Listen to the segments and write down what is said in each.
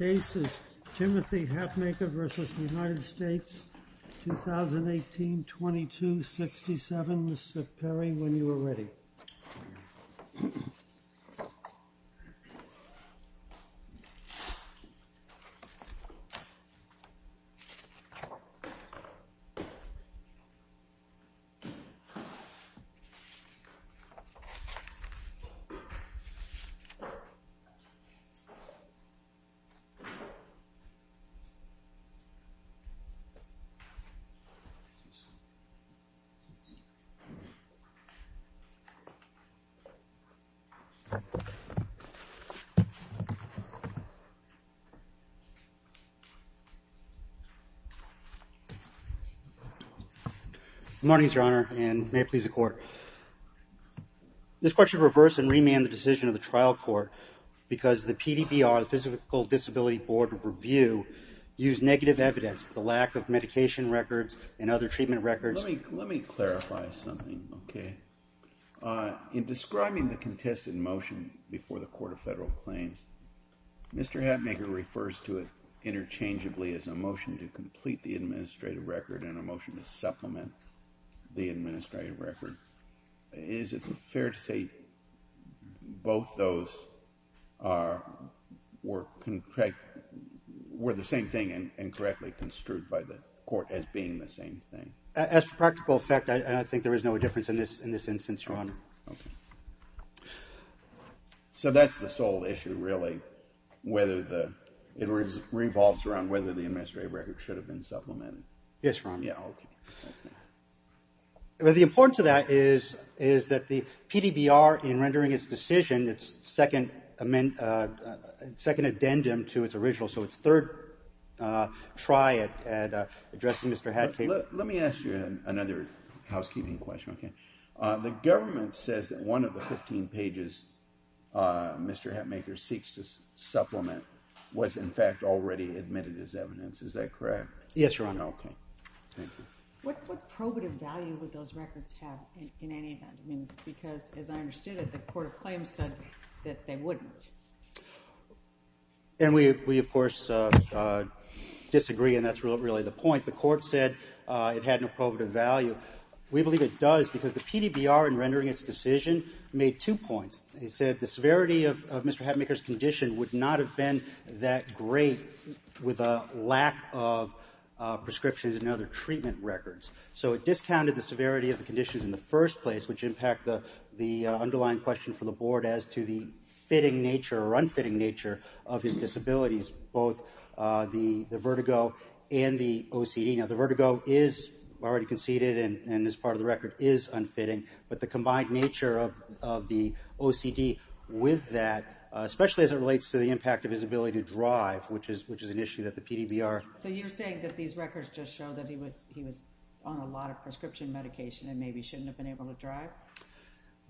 2018-22-67, Mr. Perry, when you are ready. Good morning, Your Honor, and may it please the Court. This Court should reverse and remand the decision of the trial court because the PDBR, the Physical Disability Board of Review, used negative evidence, the lack of medication records and other treatment records. Let me clarify something, okay? In describing the contested motion before the Court of Federal Claims, Mr. Hapmaker refers to it interchangeably as a motion to complete the administrative record and a motion to supplement the administrative record. Is it fair to say both those were the same thing and correctly construed by the Court as being the same thing? As for practical effect, I think there is no difference in this instance, Your Honor. Okay. So that's the sole issue, really, whether it revolves around whether the administrative record should have been supplemented? Yes, Your Honor. Yeah, okay. Well, the importance of that is that the PDBR, in rendering its decision, its second addendum to its original, so its third try at addressing Mr. Hapmaker — Let me ask you another housekeeping question, okay? The government says that one of the 15 pages Mr. Hapmaker seeks to supplement was, in fact, already admitted as evidence. Is that correct? Yes, Your Honor. Okay. Thank you. What probative value would those records have in any event? I mean, because, as I understood it, the Court of Claims said that they wouldn't. And we, of course, disagree, and that's really the point. The Court said it had no probative value. We believe it does because the PDBR, in rendering its decision, made two points. It said the severity of Mr. Hapmaker's condition would not have been that great with a lack of prescriptions and other treatment records. So it discounted the severity of the conditions in the first place, which impact the underlying question from the Board as to the fitting nature or unfitting nature of his disabilities, both the vertigo and the OCD. Now, the vertigo is already conceded and is part of the record, is unfitting. But the combined nature of the OCD with that, especially as it relates to the impact of his ability to drive, which is an issue that the PDBR... So you're saying that these records just show that he was on a lot of prescription medication and maybe shouldn't have been able to drive?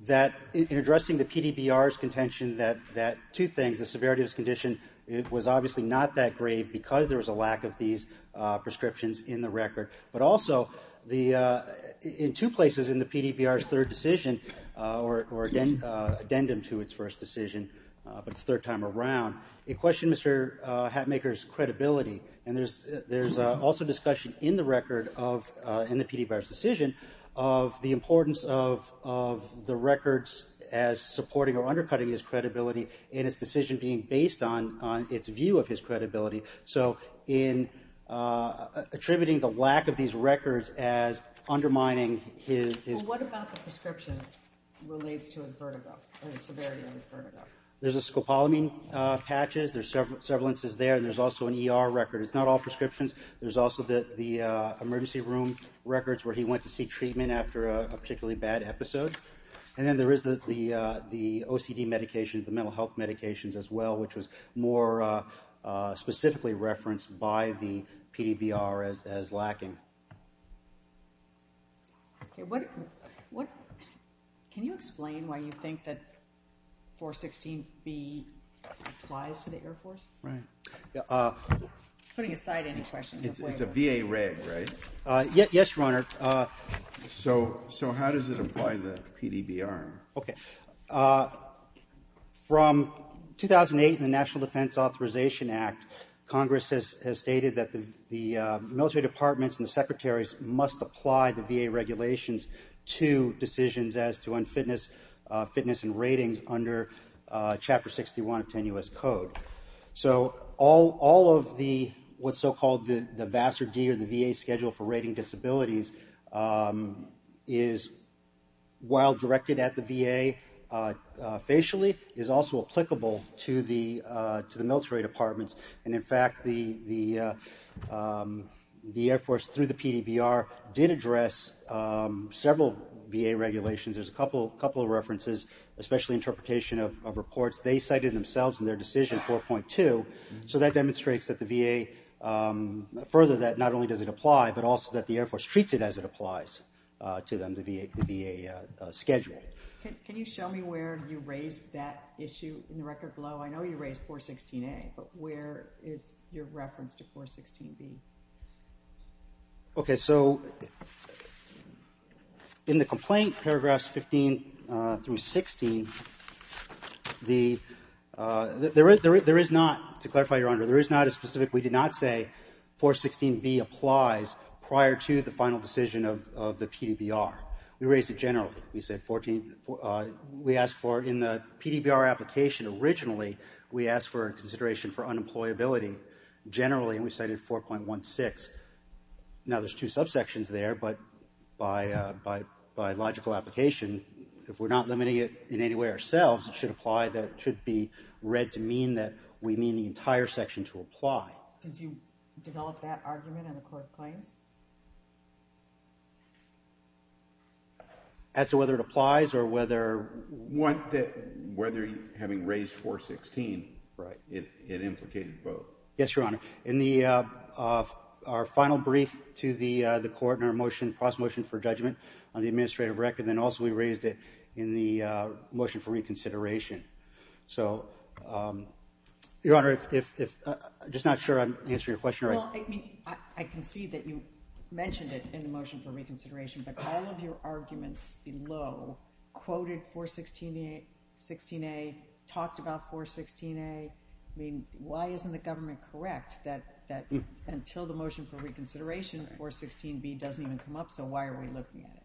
That in addressing the PDBR's contention that, two things, the severity of his condition was obviously not that great because there was a lack of these prescriptions in the record. But also, in two places in the PDBR's third decision, or addendum to its first decision, but its third time around, it questioned Mr. Hatmaker's credibility. And there's also discussion in the record of, in the PDBR's decision, of the importance of the records as supporting or undercutting his credibility in its decision being based on its view of his credibility. So in attributing the lack of these records as undermining his... Well, what about the prescriptions relates to his vertigo, or the severity of his vertigo? There's a scopolamine patches, there's several instances there, and there's also an ER record. It's not all prescriptions. There's also the emergency room records where he went to see treatment after a particularly bad episode. And then there is the OCD medications, the mental health medications as well, which was more specifically referenced by the PDBR as lacking. Okay, can you explain why you think that 416B applies to the Air Force? Putting aside any questions. It's a VA reg, right? Yes, Your Honor. So how does it apply to the PDBR? Okay. From 2008, the National Defense Authorization Act, Congress has stated that the military departments and the secretaries must apply the VA regulations to decisions as to unfitness, fitness and ratings under Chapter 61 of 10 U.S. Code. So all of the, what's so-called the VASRD or the VA Schedule for Rating Disabilities is while directed at the VA facially, is also applicable to the military departments. And in fact, the Air Force through the PDBR did address several VA regulations. There's a couple of references, especially interpretation of reports. They cited themselves in their decision 4.2. So that demonstrates that the VA, further that not only does it apply, but also that the Air Force treats it as it applies to them, the VA Schedule. Can you show me where you raised that issue in the record below? I know you raised 4.16a, but where is your reference to 4.16b? Okay, so in the complaint, paragraphs 15 through 16, there is not, to clarify, Your Honor, there is not a specific, we did not say 4.16b applies prior to the final decision of the PDBR. We raised it generally. We said 14, we asked for, in the PDBR application originally, we asked for consideration for unemployability generally, and we cited 4.16. Now there's two subsections there, but by logical application, if we're not limiting it in any way ourselves, it should apply that it should be read to mean that we mean the entire section to apply. Did you develop that argument in the court claims? As to whether it applies, or whether... Whether having raised 4.16, it implicated both. Yes, Your Honor. In the, our final brief to the court in our motion, process motion for judgment on the administrative record, and then also we raised it in the motion for reconsideration. So, Your Honor, if, just not sure I'm answering your question right. Well, I mean, I can see that you mentioned it in the motion for reconsideration, but all of your arguments below quoted 4.16a, talked about 4.16a. I mean, why isn't the government correct that until the motion for reconsideration, 4.16b doesn't even come up, so why are we looking at it?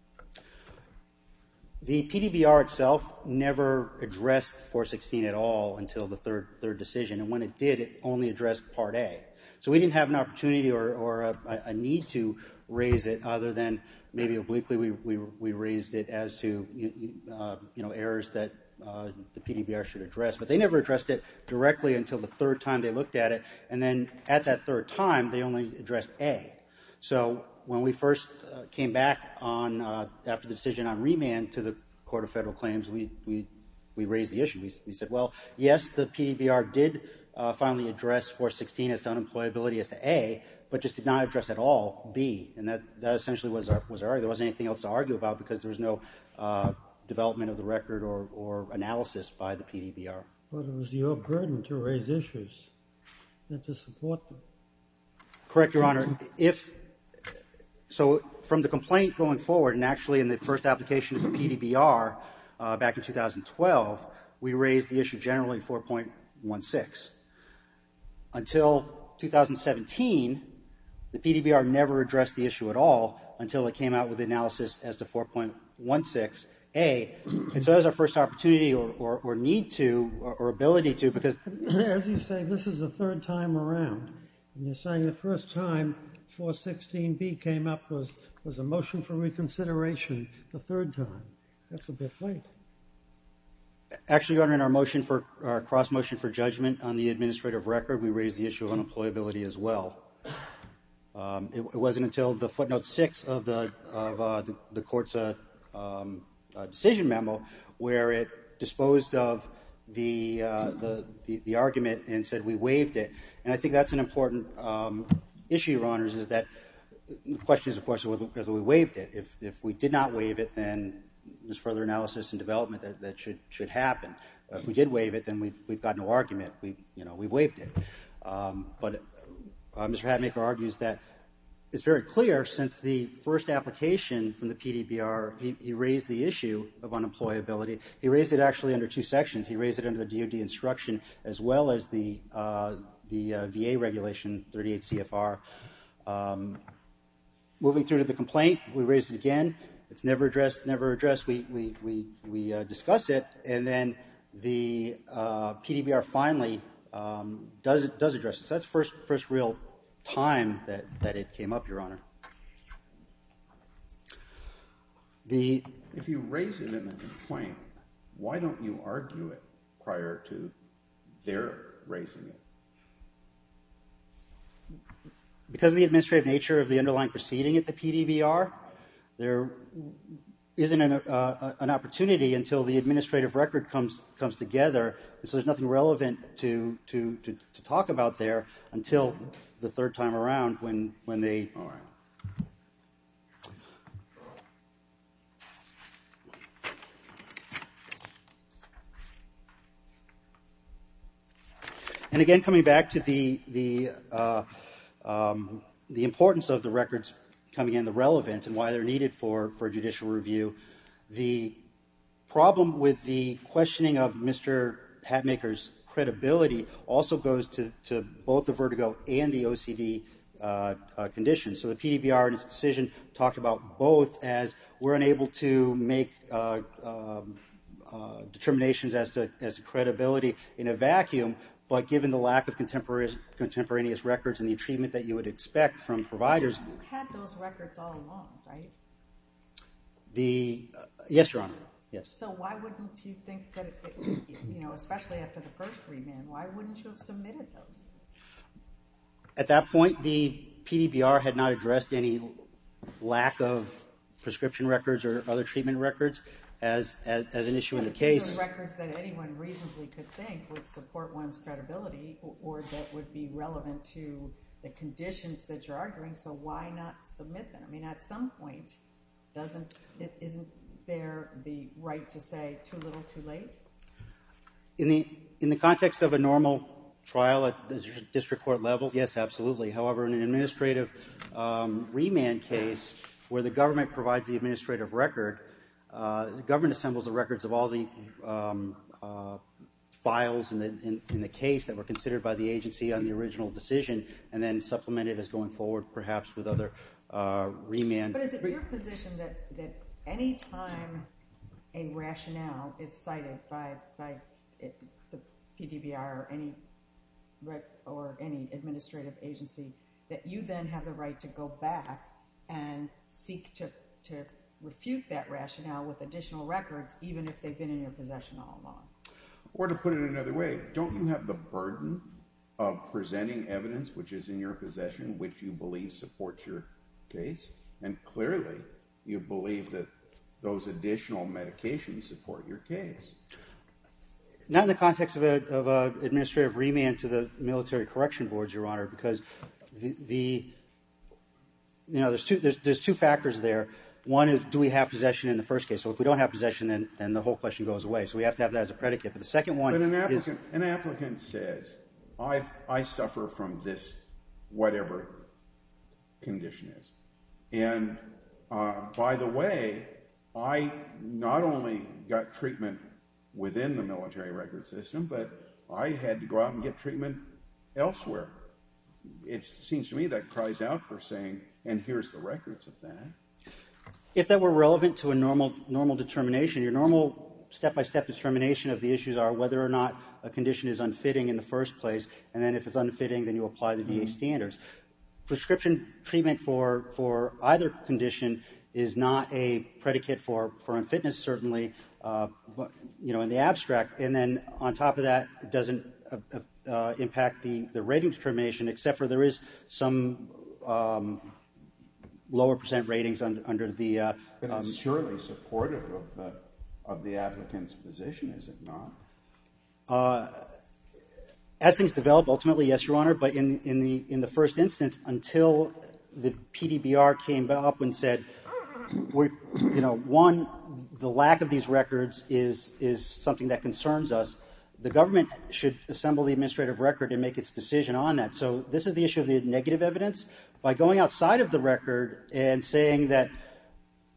The PDBR itself never addressed 4.16 at all until the third decision, and when it did, it only addressed Part A. So we didn't have an opportunity or a need to raise it other than maybe obliquely we raised it as to, you know, errors that the PDBR should address. But they never addressed it directly until the third time they looked at it, and then at that third time, they only addressed A. So when we first came back on, after the decision on remand to the Court of Federal Claims, we raised the issue. We said, well, yes, the PDBR did finally address 4.16 as to unemployability as to A, but just did not address at all B. And that essentially was our, there wasn't anything else to argue about because there was no development of the record or analysis by the PDBR. But it was your burden to raise issues and to support them. Correct, Your Honor. If, so from the complaint going forward, and actually in the first application of the PDBR back in 2012, we raised the issue generally 4.16. Until 2017, the PDBR never addressed the issue at all until it came out with analysis as to 4.16A. And so that was our first opportunity or need to, or ability to, because as you say, this is the third time around. And you're saying the first time 4.16B came up was a motion for reconsideration the third time. That's a bit late. Actually, Your Honor, in our motion for, in our judgment on the administrative record, we raised the issue of unemployability as well. It wasn't until the footnote six of the court's decision memo where it disposed of the argument and said we waived it. And I think that's an important issue, Your Honors, is that the question is, of course, whether we waived it. If we did not waive it, then there's further analysis and development that should happen. If we did waive it, then we've got no argument. We waived it. But Mr. Hadmaker argues that it's very clear since the first application from the PDBR, he raised the issue of unemployability. He raised it actually under two sections. He raised it under the DOD instruction as well as the VA regulation, 38 CFR. Moving through to the complaint, we raised it again. It's never addressed, never addressed. We discussed it. And then the PDBR finally does address it. So that's the first real time that it came up, Your Honor. If you raise it in the complaint, why don't you argue it prior to their raising it? Because of the administrative nature of the underlying proceeding at the PDBR, there isn't an opportunity until the administrative record comes together. So there's nothing relevant to talk about there until the third time around when they are. And again, coming back to the importance of the records coming in, the relevance, and why they're needed for judicial review, the problem with the questioning of Mr. Hadmaker's credibility also goes to both the vertigo and the OCD conditions. So the PDBR in its decision talked about both as we're unable to make determinations as to credibility in a vacuum, but given the lack of contemporaneous records and the achievement that you would expect from providers. You had those records all along, right? Yes, Your Honor. So why wouldn't you think that, especially after the first remand, why wouldn't you have submitted those? At that point, the PDBR had not addressed any lack of prescription records or other treatment records as an issue in the case. Records that anyone reasonably could think would support one's credibility or that would be relevant to the conditions that you're arguing, so why not submit them? I mean, at some point, isn't there the right to say too little, too late? In the context of a normal trial at district court level, yes, absolutely. However, in an administrative remand case where the government provides the administrative record, the government assembles the records of all the files in the case that were considered by the agency on the original decision and then supplemented as going forward perhaps with other remands. But is it your position that any time a rationale is cited by the PDBR or any administrative agency that you then have the right to go back and seek to refute that rationale with additional records even if they've been in your possession all along? Or to put it another way, don't you have the burden of presenting evidence which is in your possession which you believe supports your case? And clearly, you believe that those additional medications support your case. Not in the context of an administrative remand to the military correction boards, Your Honor, because there's two factors there. One is, do we have possession in the first case? So if we don't have possession, then the whole question goes away. So we have to have that as a predicate. But the second one is- An applicant says, I suffer from this whatever condition is. And by the way, I not only got treatment within the military record system, but I had to go out and get treatment elsewhere. It seems to me that cries out for saying, and here's the records of that. If that were relevant to a normal determination, your normal step-by-step determination of the issues are whether or not a condition is unfitting in the first place. And then if it's unfitting, then you apply the VA standards. Prescription treatment for either condition is not a predicate for unfitness, certainly, you know, in the abstract. And then on top of that, it doesn't impact the rating determination, except for there is some lower percent ratings under the- But I'm surely supportive of the applicant's position, is it not? As things develop, ultimately, yes, Your Honor. But in the first instance, until the PDBR came up and said, one, the lack of these records is something that concerns us. The government should assemble the administrative record and make its decision on that. So this is the issue of the negative evidence. By going outside of the record and saying that,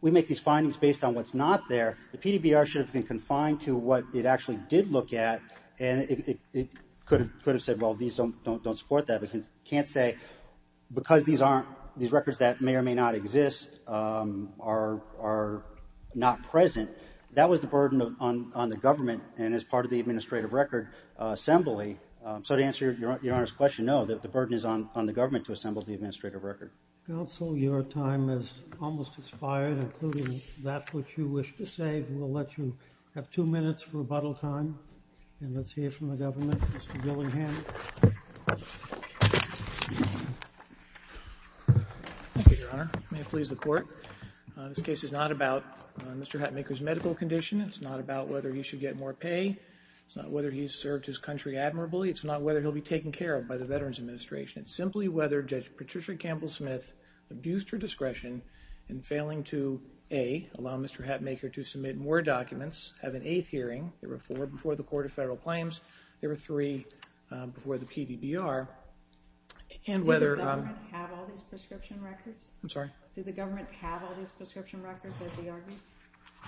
we make these findings based on what's not there, the PDBR should have been confined to what it actually did look at. And it could have said, well, these don't support that. But you can't say, because these aren't, these records that may or may not exist are not present. That was the burden on the government and as part of the administrative record assembly. So to answer Your Honor's question, no, the burden is on the government to assemble the administrative record. Counsel, your time has almost expired, including that which you wish to say. We'll let you have two minutes for rebuttal time. And let's hear from the government. Mr. Dillingham. Thank you, Your Honor. May it please the court. This case is not about Mr. Hatmaker's medical condition. It's not about whether he should get more pay. It's not whether he's served his country admirably. It's not whether he'll be taken care of by the Veterans Administration. It's simply whether Judge Patricia Campbell-Smith abused her discretion in failing to, A, allow Mr. Hatmaker to submit more documents, have an eighth hearing, there were four before the Court of Federal Claims, there were three before the PDBR, and whether- Did the government have all these prescription records? I'm sorry? Did the government have all these prescription records as he argues?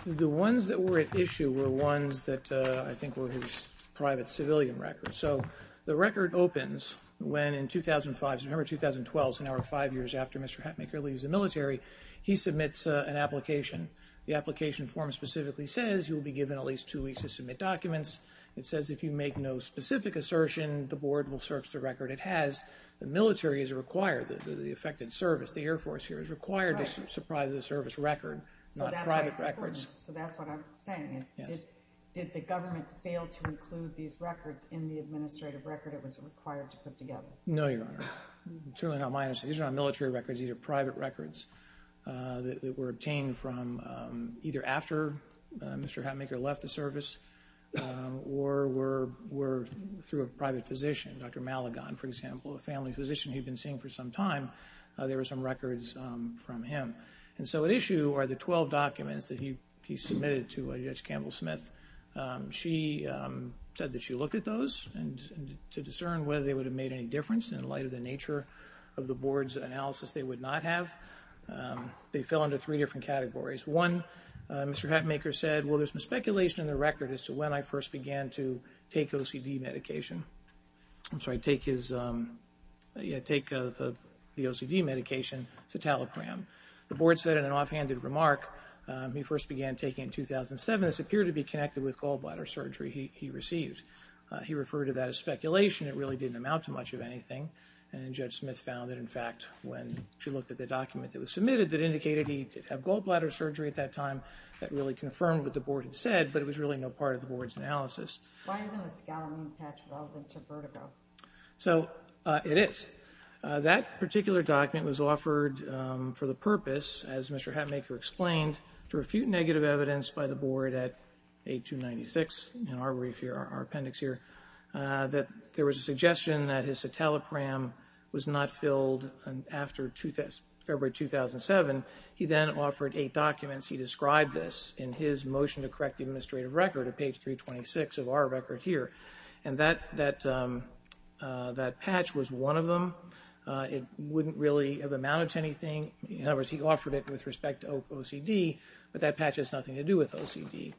The ones that were at issue were ones that I think were his private civilian records. So, the record opens when in 2005, so November 2012, so now we're five years after Mr. Hatmaker leaves the military. He submits an application. The application form specifically says he will be given at least two weeks to submit documents. It says if you make no specific assertion, the board will search the record it has. The military is required, the affected service, the Air Force here is required to supply the service record, not private records. So that's what I'm saying is, did the government fail to include these records in the administrative record it was required to put together? No, Your Honor. It's really not my understanding. These are not military records, these are private records that were obtained from either after Mr. Hatmaker left the service, or were through a private physician, Dr. Maligon, for example, a family physician he'd been seeing for some time. There were some records from him. And so at issue are the 12 documents that he submitted to Judge Campbell-Smith. She said that she looked at those and to discern whether they would have made any difference in light of the nature of the board's analysis they would not have. They fell under three different categories. One, Mr. Hatmaker said, well, there's some speculation in the record as to when I first began to take OCD medication. I'm sorry, take the OCD medication, citalopram. The board said in an offhanded remark, he first began taking in 2007. The documents appear to be connected with gallbladder surgery he received. He referred to that as speculation. It really didn't amount to much of anything. And Judge Smith found that in fact, when she looked at the document that was submitted that indicated he did have gallbladder surgery at that time, that really confirmed what the board had said, but it was really no part of the board's analysis. Why isn't a scarring patch relevant to vertigo? So it is. That particular document was offered for the purpose, as Mr. Hatmaker explained, to refute negative evidence by the board at 8-296, in our brief here, our appendix here, that there was a suggestion that his citalopram was not filled after February 2007. He then offered eight documents. He described this in his motion to correct the administrative record at page 326 of our record here. And that patch was one of them. It wouldn't really have amounted to anything. In other words, he offered it with respect to OCD, but that patch has nothing to do with OCD.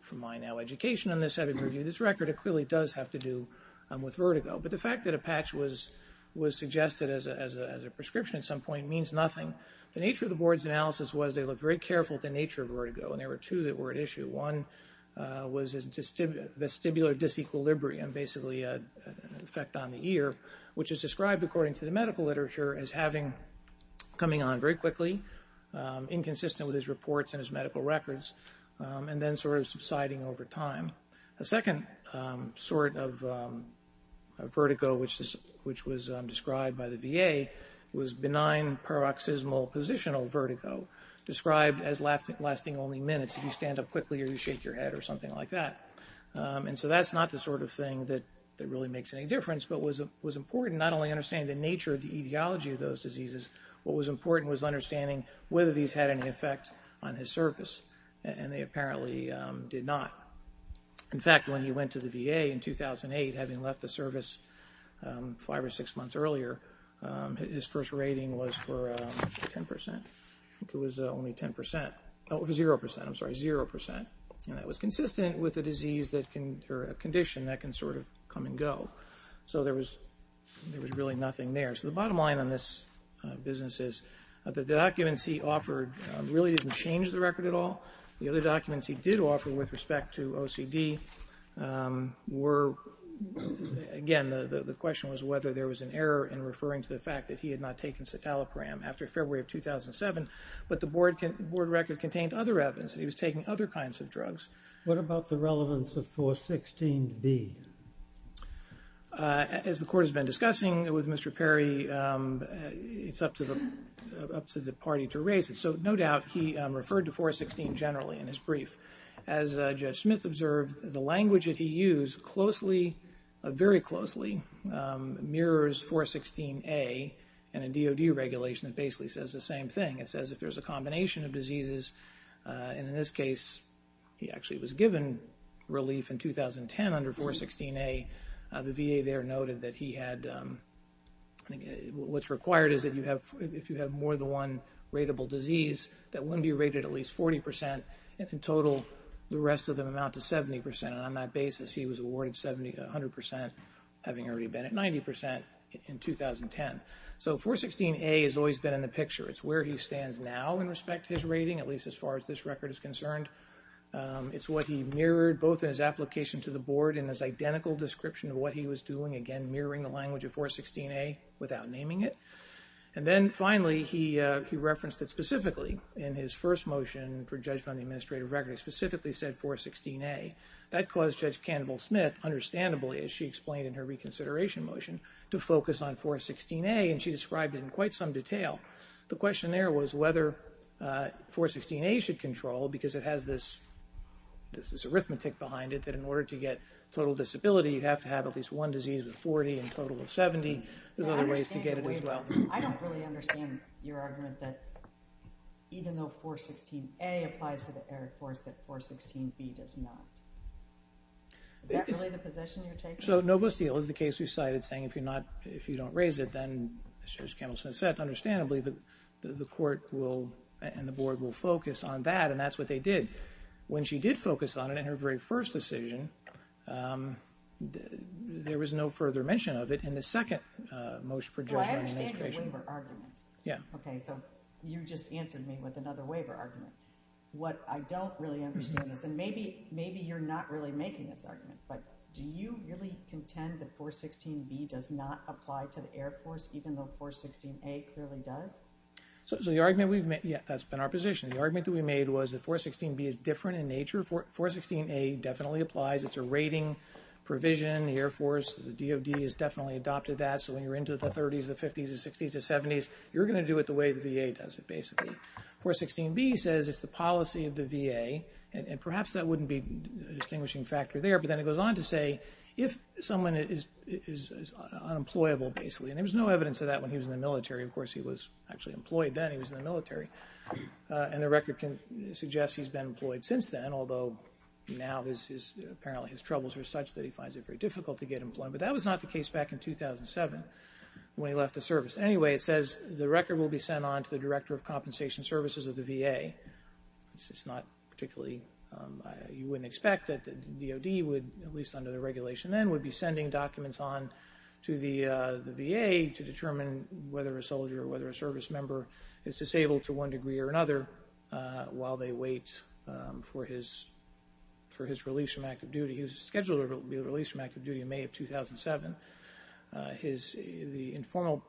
From my now education on this, I would review this record. It clearly does have to do with vertigo. But the fact that a patch was suggested as a prescription at some point means nothing. The nature of the board's analysis was they looked very careful at the nature of vertigo, and there were two that were at issue. One was vestibular disequilibrium, basically an effect on the ear, which is described according to the medical literature as coming on very quickly, inconsistent with his reports and his medical records, and then sort of subsiding over time. A second sort of vertigo, which was described by the VA, was benign paroxysmal positional vertigo, described as lasting only minutes if you stand up quickly or you shake your head or something like that. And so that's not the sort of thing that really makes any difference, but was important not only understanding the nature of the etiology of those diseases, what was important was understanding whether these had any effect on his service, and they apparently did not. In fact, when he went to the VA in 2008, having left the service five or six months earlier, his first rating was for 10%, I think it was only 10%, oh, it was 0%, I'm sorry, 0%. And that was consistent with a disease that can, or a condition that can sort of come and go. So there was really nothing there. So the bottom line on this business is the documents he offered really didn't change the record at all. The other documents he did offer with respect to OCD were, again, the question was whether there was an error in referring to the fact that he had not taken citalopram after February of 2007, but the board record contained other evidence that he was taking other kinds of drugs. What about the relevance of 416B? As the court has been discussing with Mr. Perry, it's up to the party to raise it. So no doubt he referred to 416 generally in his brief. As Judge Smith observed, the language that he used closely, very closely, mirrors 416A in a DOD regulation that basically says the same thing. It says if there's a combination of diseases, and in this case, he actually was given relief in 2010 under 416A. The VA there noted that he had, what's required is if you have more than one rateable disease that wouldn't be rated at least 40%. In total, the rest of them amount to 70%, and on that basis, he was awarded 100% having already been at 90% in 2010. So 416A has always been in the picture. It's where he stands now in respect to his rating, at least as far as this record is concerned. It's what he mirrored both in his application to the board and his identical description of what he was doing, again, mirroring the language of 416A without naming it. And then finally, he referenced it specifically in his first motion for judgment on the administrative record. He specifically said 416A. That caused Judge Campbell-Smith, understandably, as she explained in her reconsideration motion, to focus on 416A, and she described it in quite some detail. The question there was whether 416A should control, because it has this arithmetic behind it that in order to get total disability, you have to have at least one disease with 40 and a total of 70. There's other ways to get it as well. I don't really understand your argument that even though 416A applies to the error course, that 416B does not. Is that really the position you're taking? So no bus deal is the case we've cited, saying if you don't raise it, then, as Judge Campbell-Smith said, understandably, the court and the board will focus on that, and that's what they did. When she did focus on it in her very first decision, there was no further mention of it in the second motion for judgment on administration. Well, I understand your waiver argument. Yeah. Okay, so you just answered me with another waiver argument. What I don't really understand is, and maybe you're not really making this argument, but do you really contend that 416B does not apply to the error course, even though 416A clearly does? So the argument we've made, yeah, that's been our position. The argument that we made was that 416B is different in nature. 416A definitely applies. It's a rating provision. The Air Force, the DOD has definitely adopted that, so when you're into the 30s, the 50s, the 60s, the 70s, you're gonna do it the way the VA does it, basically. 416B says it's the policy of the VA, and perhaps that wouldn't be a distinguishing factor there, but then it goes on to say, if someone is unemployable, basically, and there was no evidence of that when he was in the military. Of course, he was actually employed then. He was in the military, and the record can suggest he's been employed since then, although now apparently his troubles are such that he finds it very difficult to get employed, but that was not the case back in 2007 when he left the service. Anyway, it says the record will be sent on to the Director of Compensation Services of the VA. This is not particularly, you wouldn't expect that the DOD would, at least under the regulation then, would be sending documents on to the VA to determine whether a soldier or whether a service member is disabled to one degree or another while they wait for his release from active duty. He was scheduled to be released from active duty in May of 2007. The informal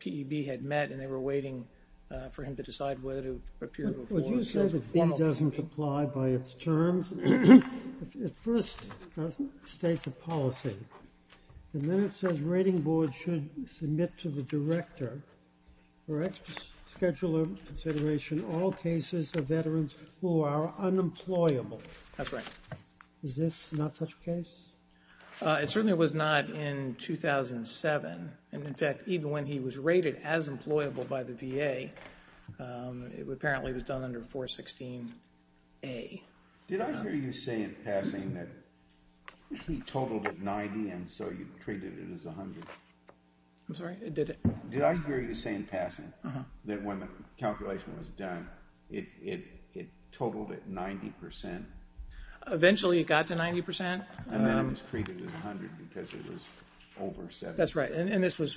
PEB had met, and they were waiting for him to decide whether to appear before. Would you say that PEB doesn't apply by its terms? It first states a policy, and then it says rating board should submit to the director for extra scheduler consideration all cases of veterans who are unemployable. That's right. Is this not such a case? It certainly was not in 2007, and in fact, even when he was rated as employable by the VA, it apparently was done under 416-A. Did I hear you say in passing that he totaled at 90 and so you treated it as 100? I'm sorry, I didn't. Did I hear you say in passing that when the calculation was done, it totaled at 90%? Eventually, it got to 90%. And then it was treated as 100 because it was over 70%. That's right, and this was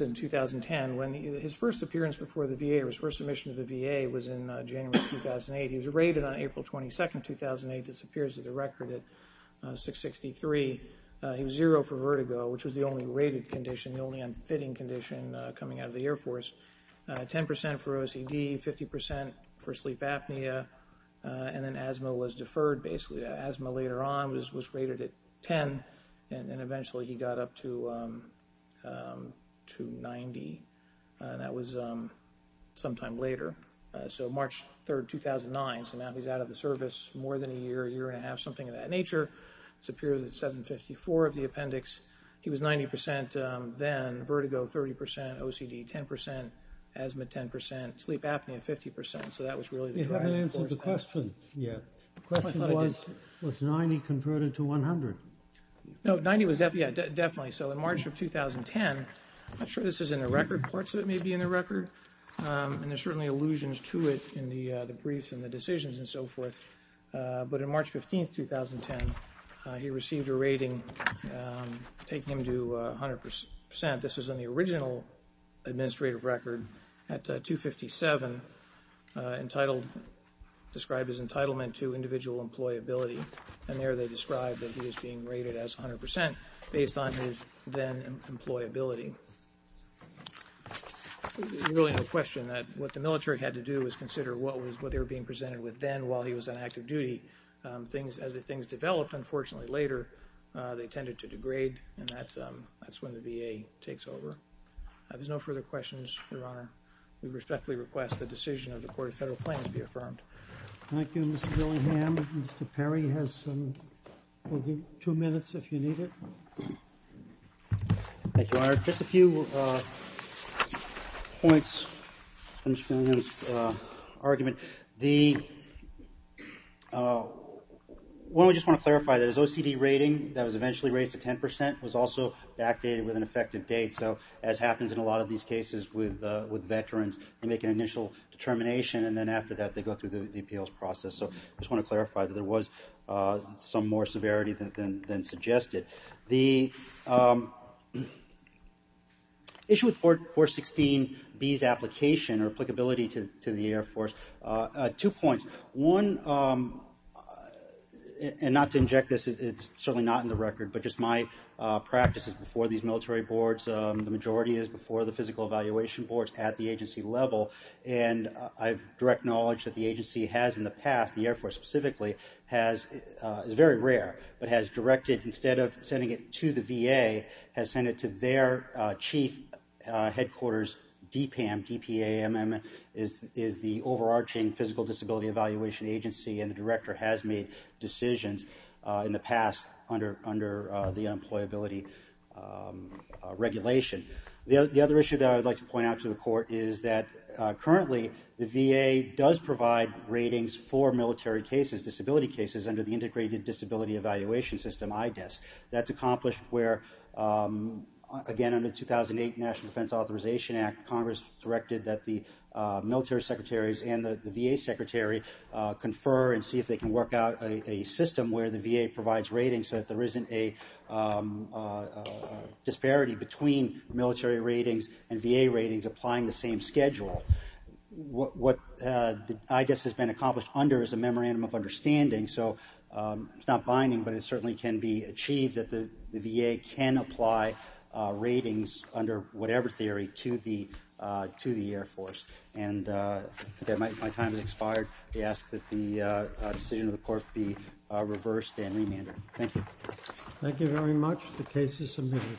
in 2010 when his first appearance before the VA or his first submission to the VA was in January 2008. He was rated on April 22nd, 2008. This appears in the record at 663. He was zero for vertigo, which was the only rated condition, the only unfitting condition coming out of the Air Force. 10% for OCD, 50% for sleep apnea, and then asthma was deferred basically. The asthma later on was rated at 10, and eventually, he got up to 90, and that was sometime later. So March 3rd, 2009, so now he's out of the service more than a year, a year and a half, something of that nature. This appears at 754 of the appendix. He was 90% then, vertigo, 30%, OCD, 10%, asthma, 10%, sleep apnea, 50%. So that was really the driving force. You haven't answered the question yet. The question was, was 90 converted to 100? No, 90 was definitely, yeah, definitely. So in March of 2010, I'm not sure this is in the record. Parts of it may be in the record, and there's certainly allusions to it in the briefs and the decisions and so forth, but on March 15th, 2010, he received a rating taking him to 100%. This was in the original administrative record at 257, entitled, described as entitlement to individual employability, and there they described that he was being rated as 100% based on his then employability. Really no question that what the military had to do was consider what they were being presented with then while he was on active duty. Things, as things developed, unfortunately, later, they tended to degrade, and that's when the VA takes over. If there's no further questions, Your Honor, we respectfully request the decision of the Court of Federal Claims be affirmed. Thank you, Mr. Billingham. Mr. Perry has two minutes if you need it. Thank you, Your Honor. Just a few points from Mr. Billingham's argument. The, one we just wanna clarify, that his OCD rating that was eventually raised to 10% was also backdated with an effective date, so as happens in a lot of these cases with veterans, they make an initial determination, and then after that, they go through the DPL's process, so I just wanna clarify that there was some more severity than suggested. The issue with 416B's application or applicability to the Air Force, two points. One, and not to inject this, it's certainly not in the record but just my practice is before these military boards, the majority is before the physical evaluation boards at the agency level, and I've direct knowledge that the agency has in the past, the Air Force specifically, has, it's very rare, but has directed, instead of sending it to the VA, has sent it to their chief headquarters, DPAM, D-P-A-M-M, is the overarching physical disability evaluation agency, and the director has made decisions in the past under the unemployability regulation. The other issue that I would like to point out to the court is that currently, the VA does provide ratings for military cases, disability cases, under the Integrated Disability Evaluation System, IDES, that's accomplished where, again, under the 2008 National Defense Authorization Act, Congress directed that the military secretaries and the VA secretary confer and see if they can work out a system where the VA provides ratings so that there isn't a disparity between military ratings and VA ratings applying the same schedule. What IDES has been accomplished under is a memorandum of understanding, so it's not binding, but it certainly can be achieved that the VA can apply ratings under whatever theory to the Air Force, and I think my time has expired. I ask that the decision of the court be reversed and remanded, thank you. Thank you very much, the case is submitted.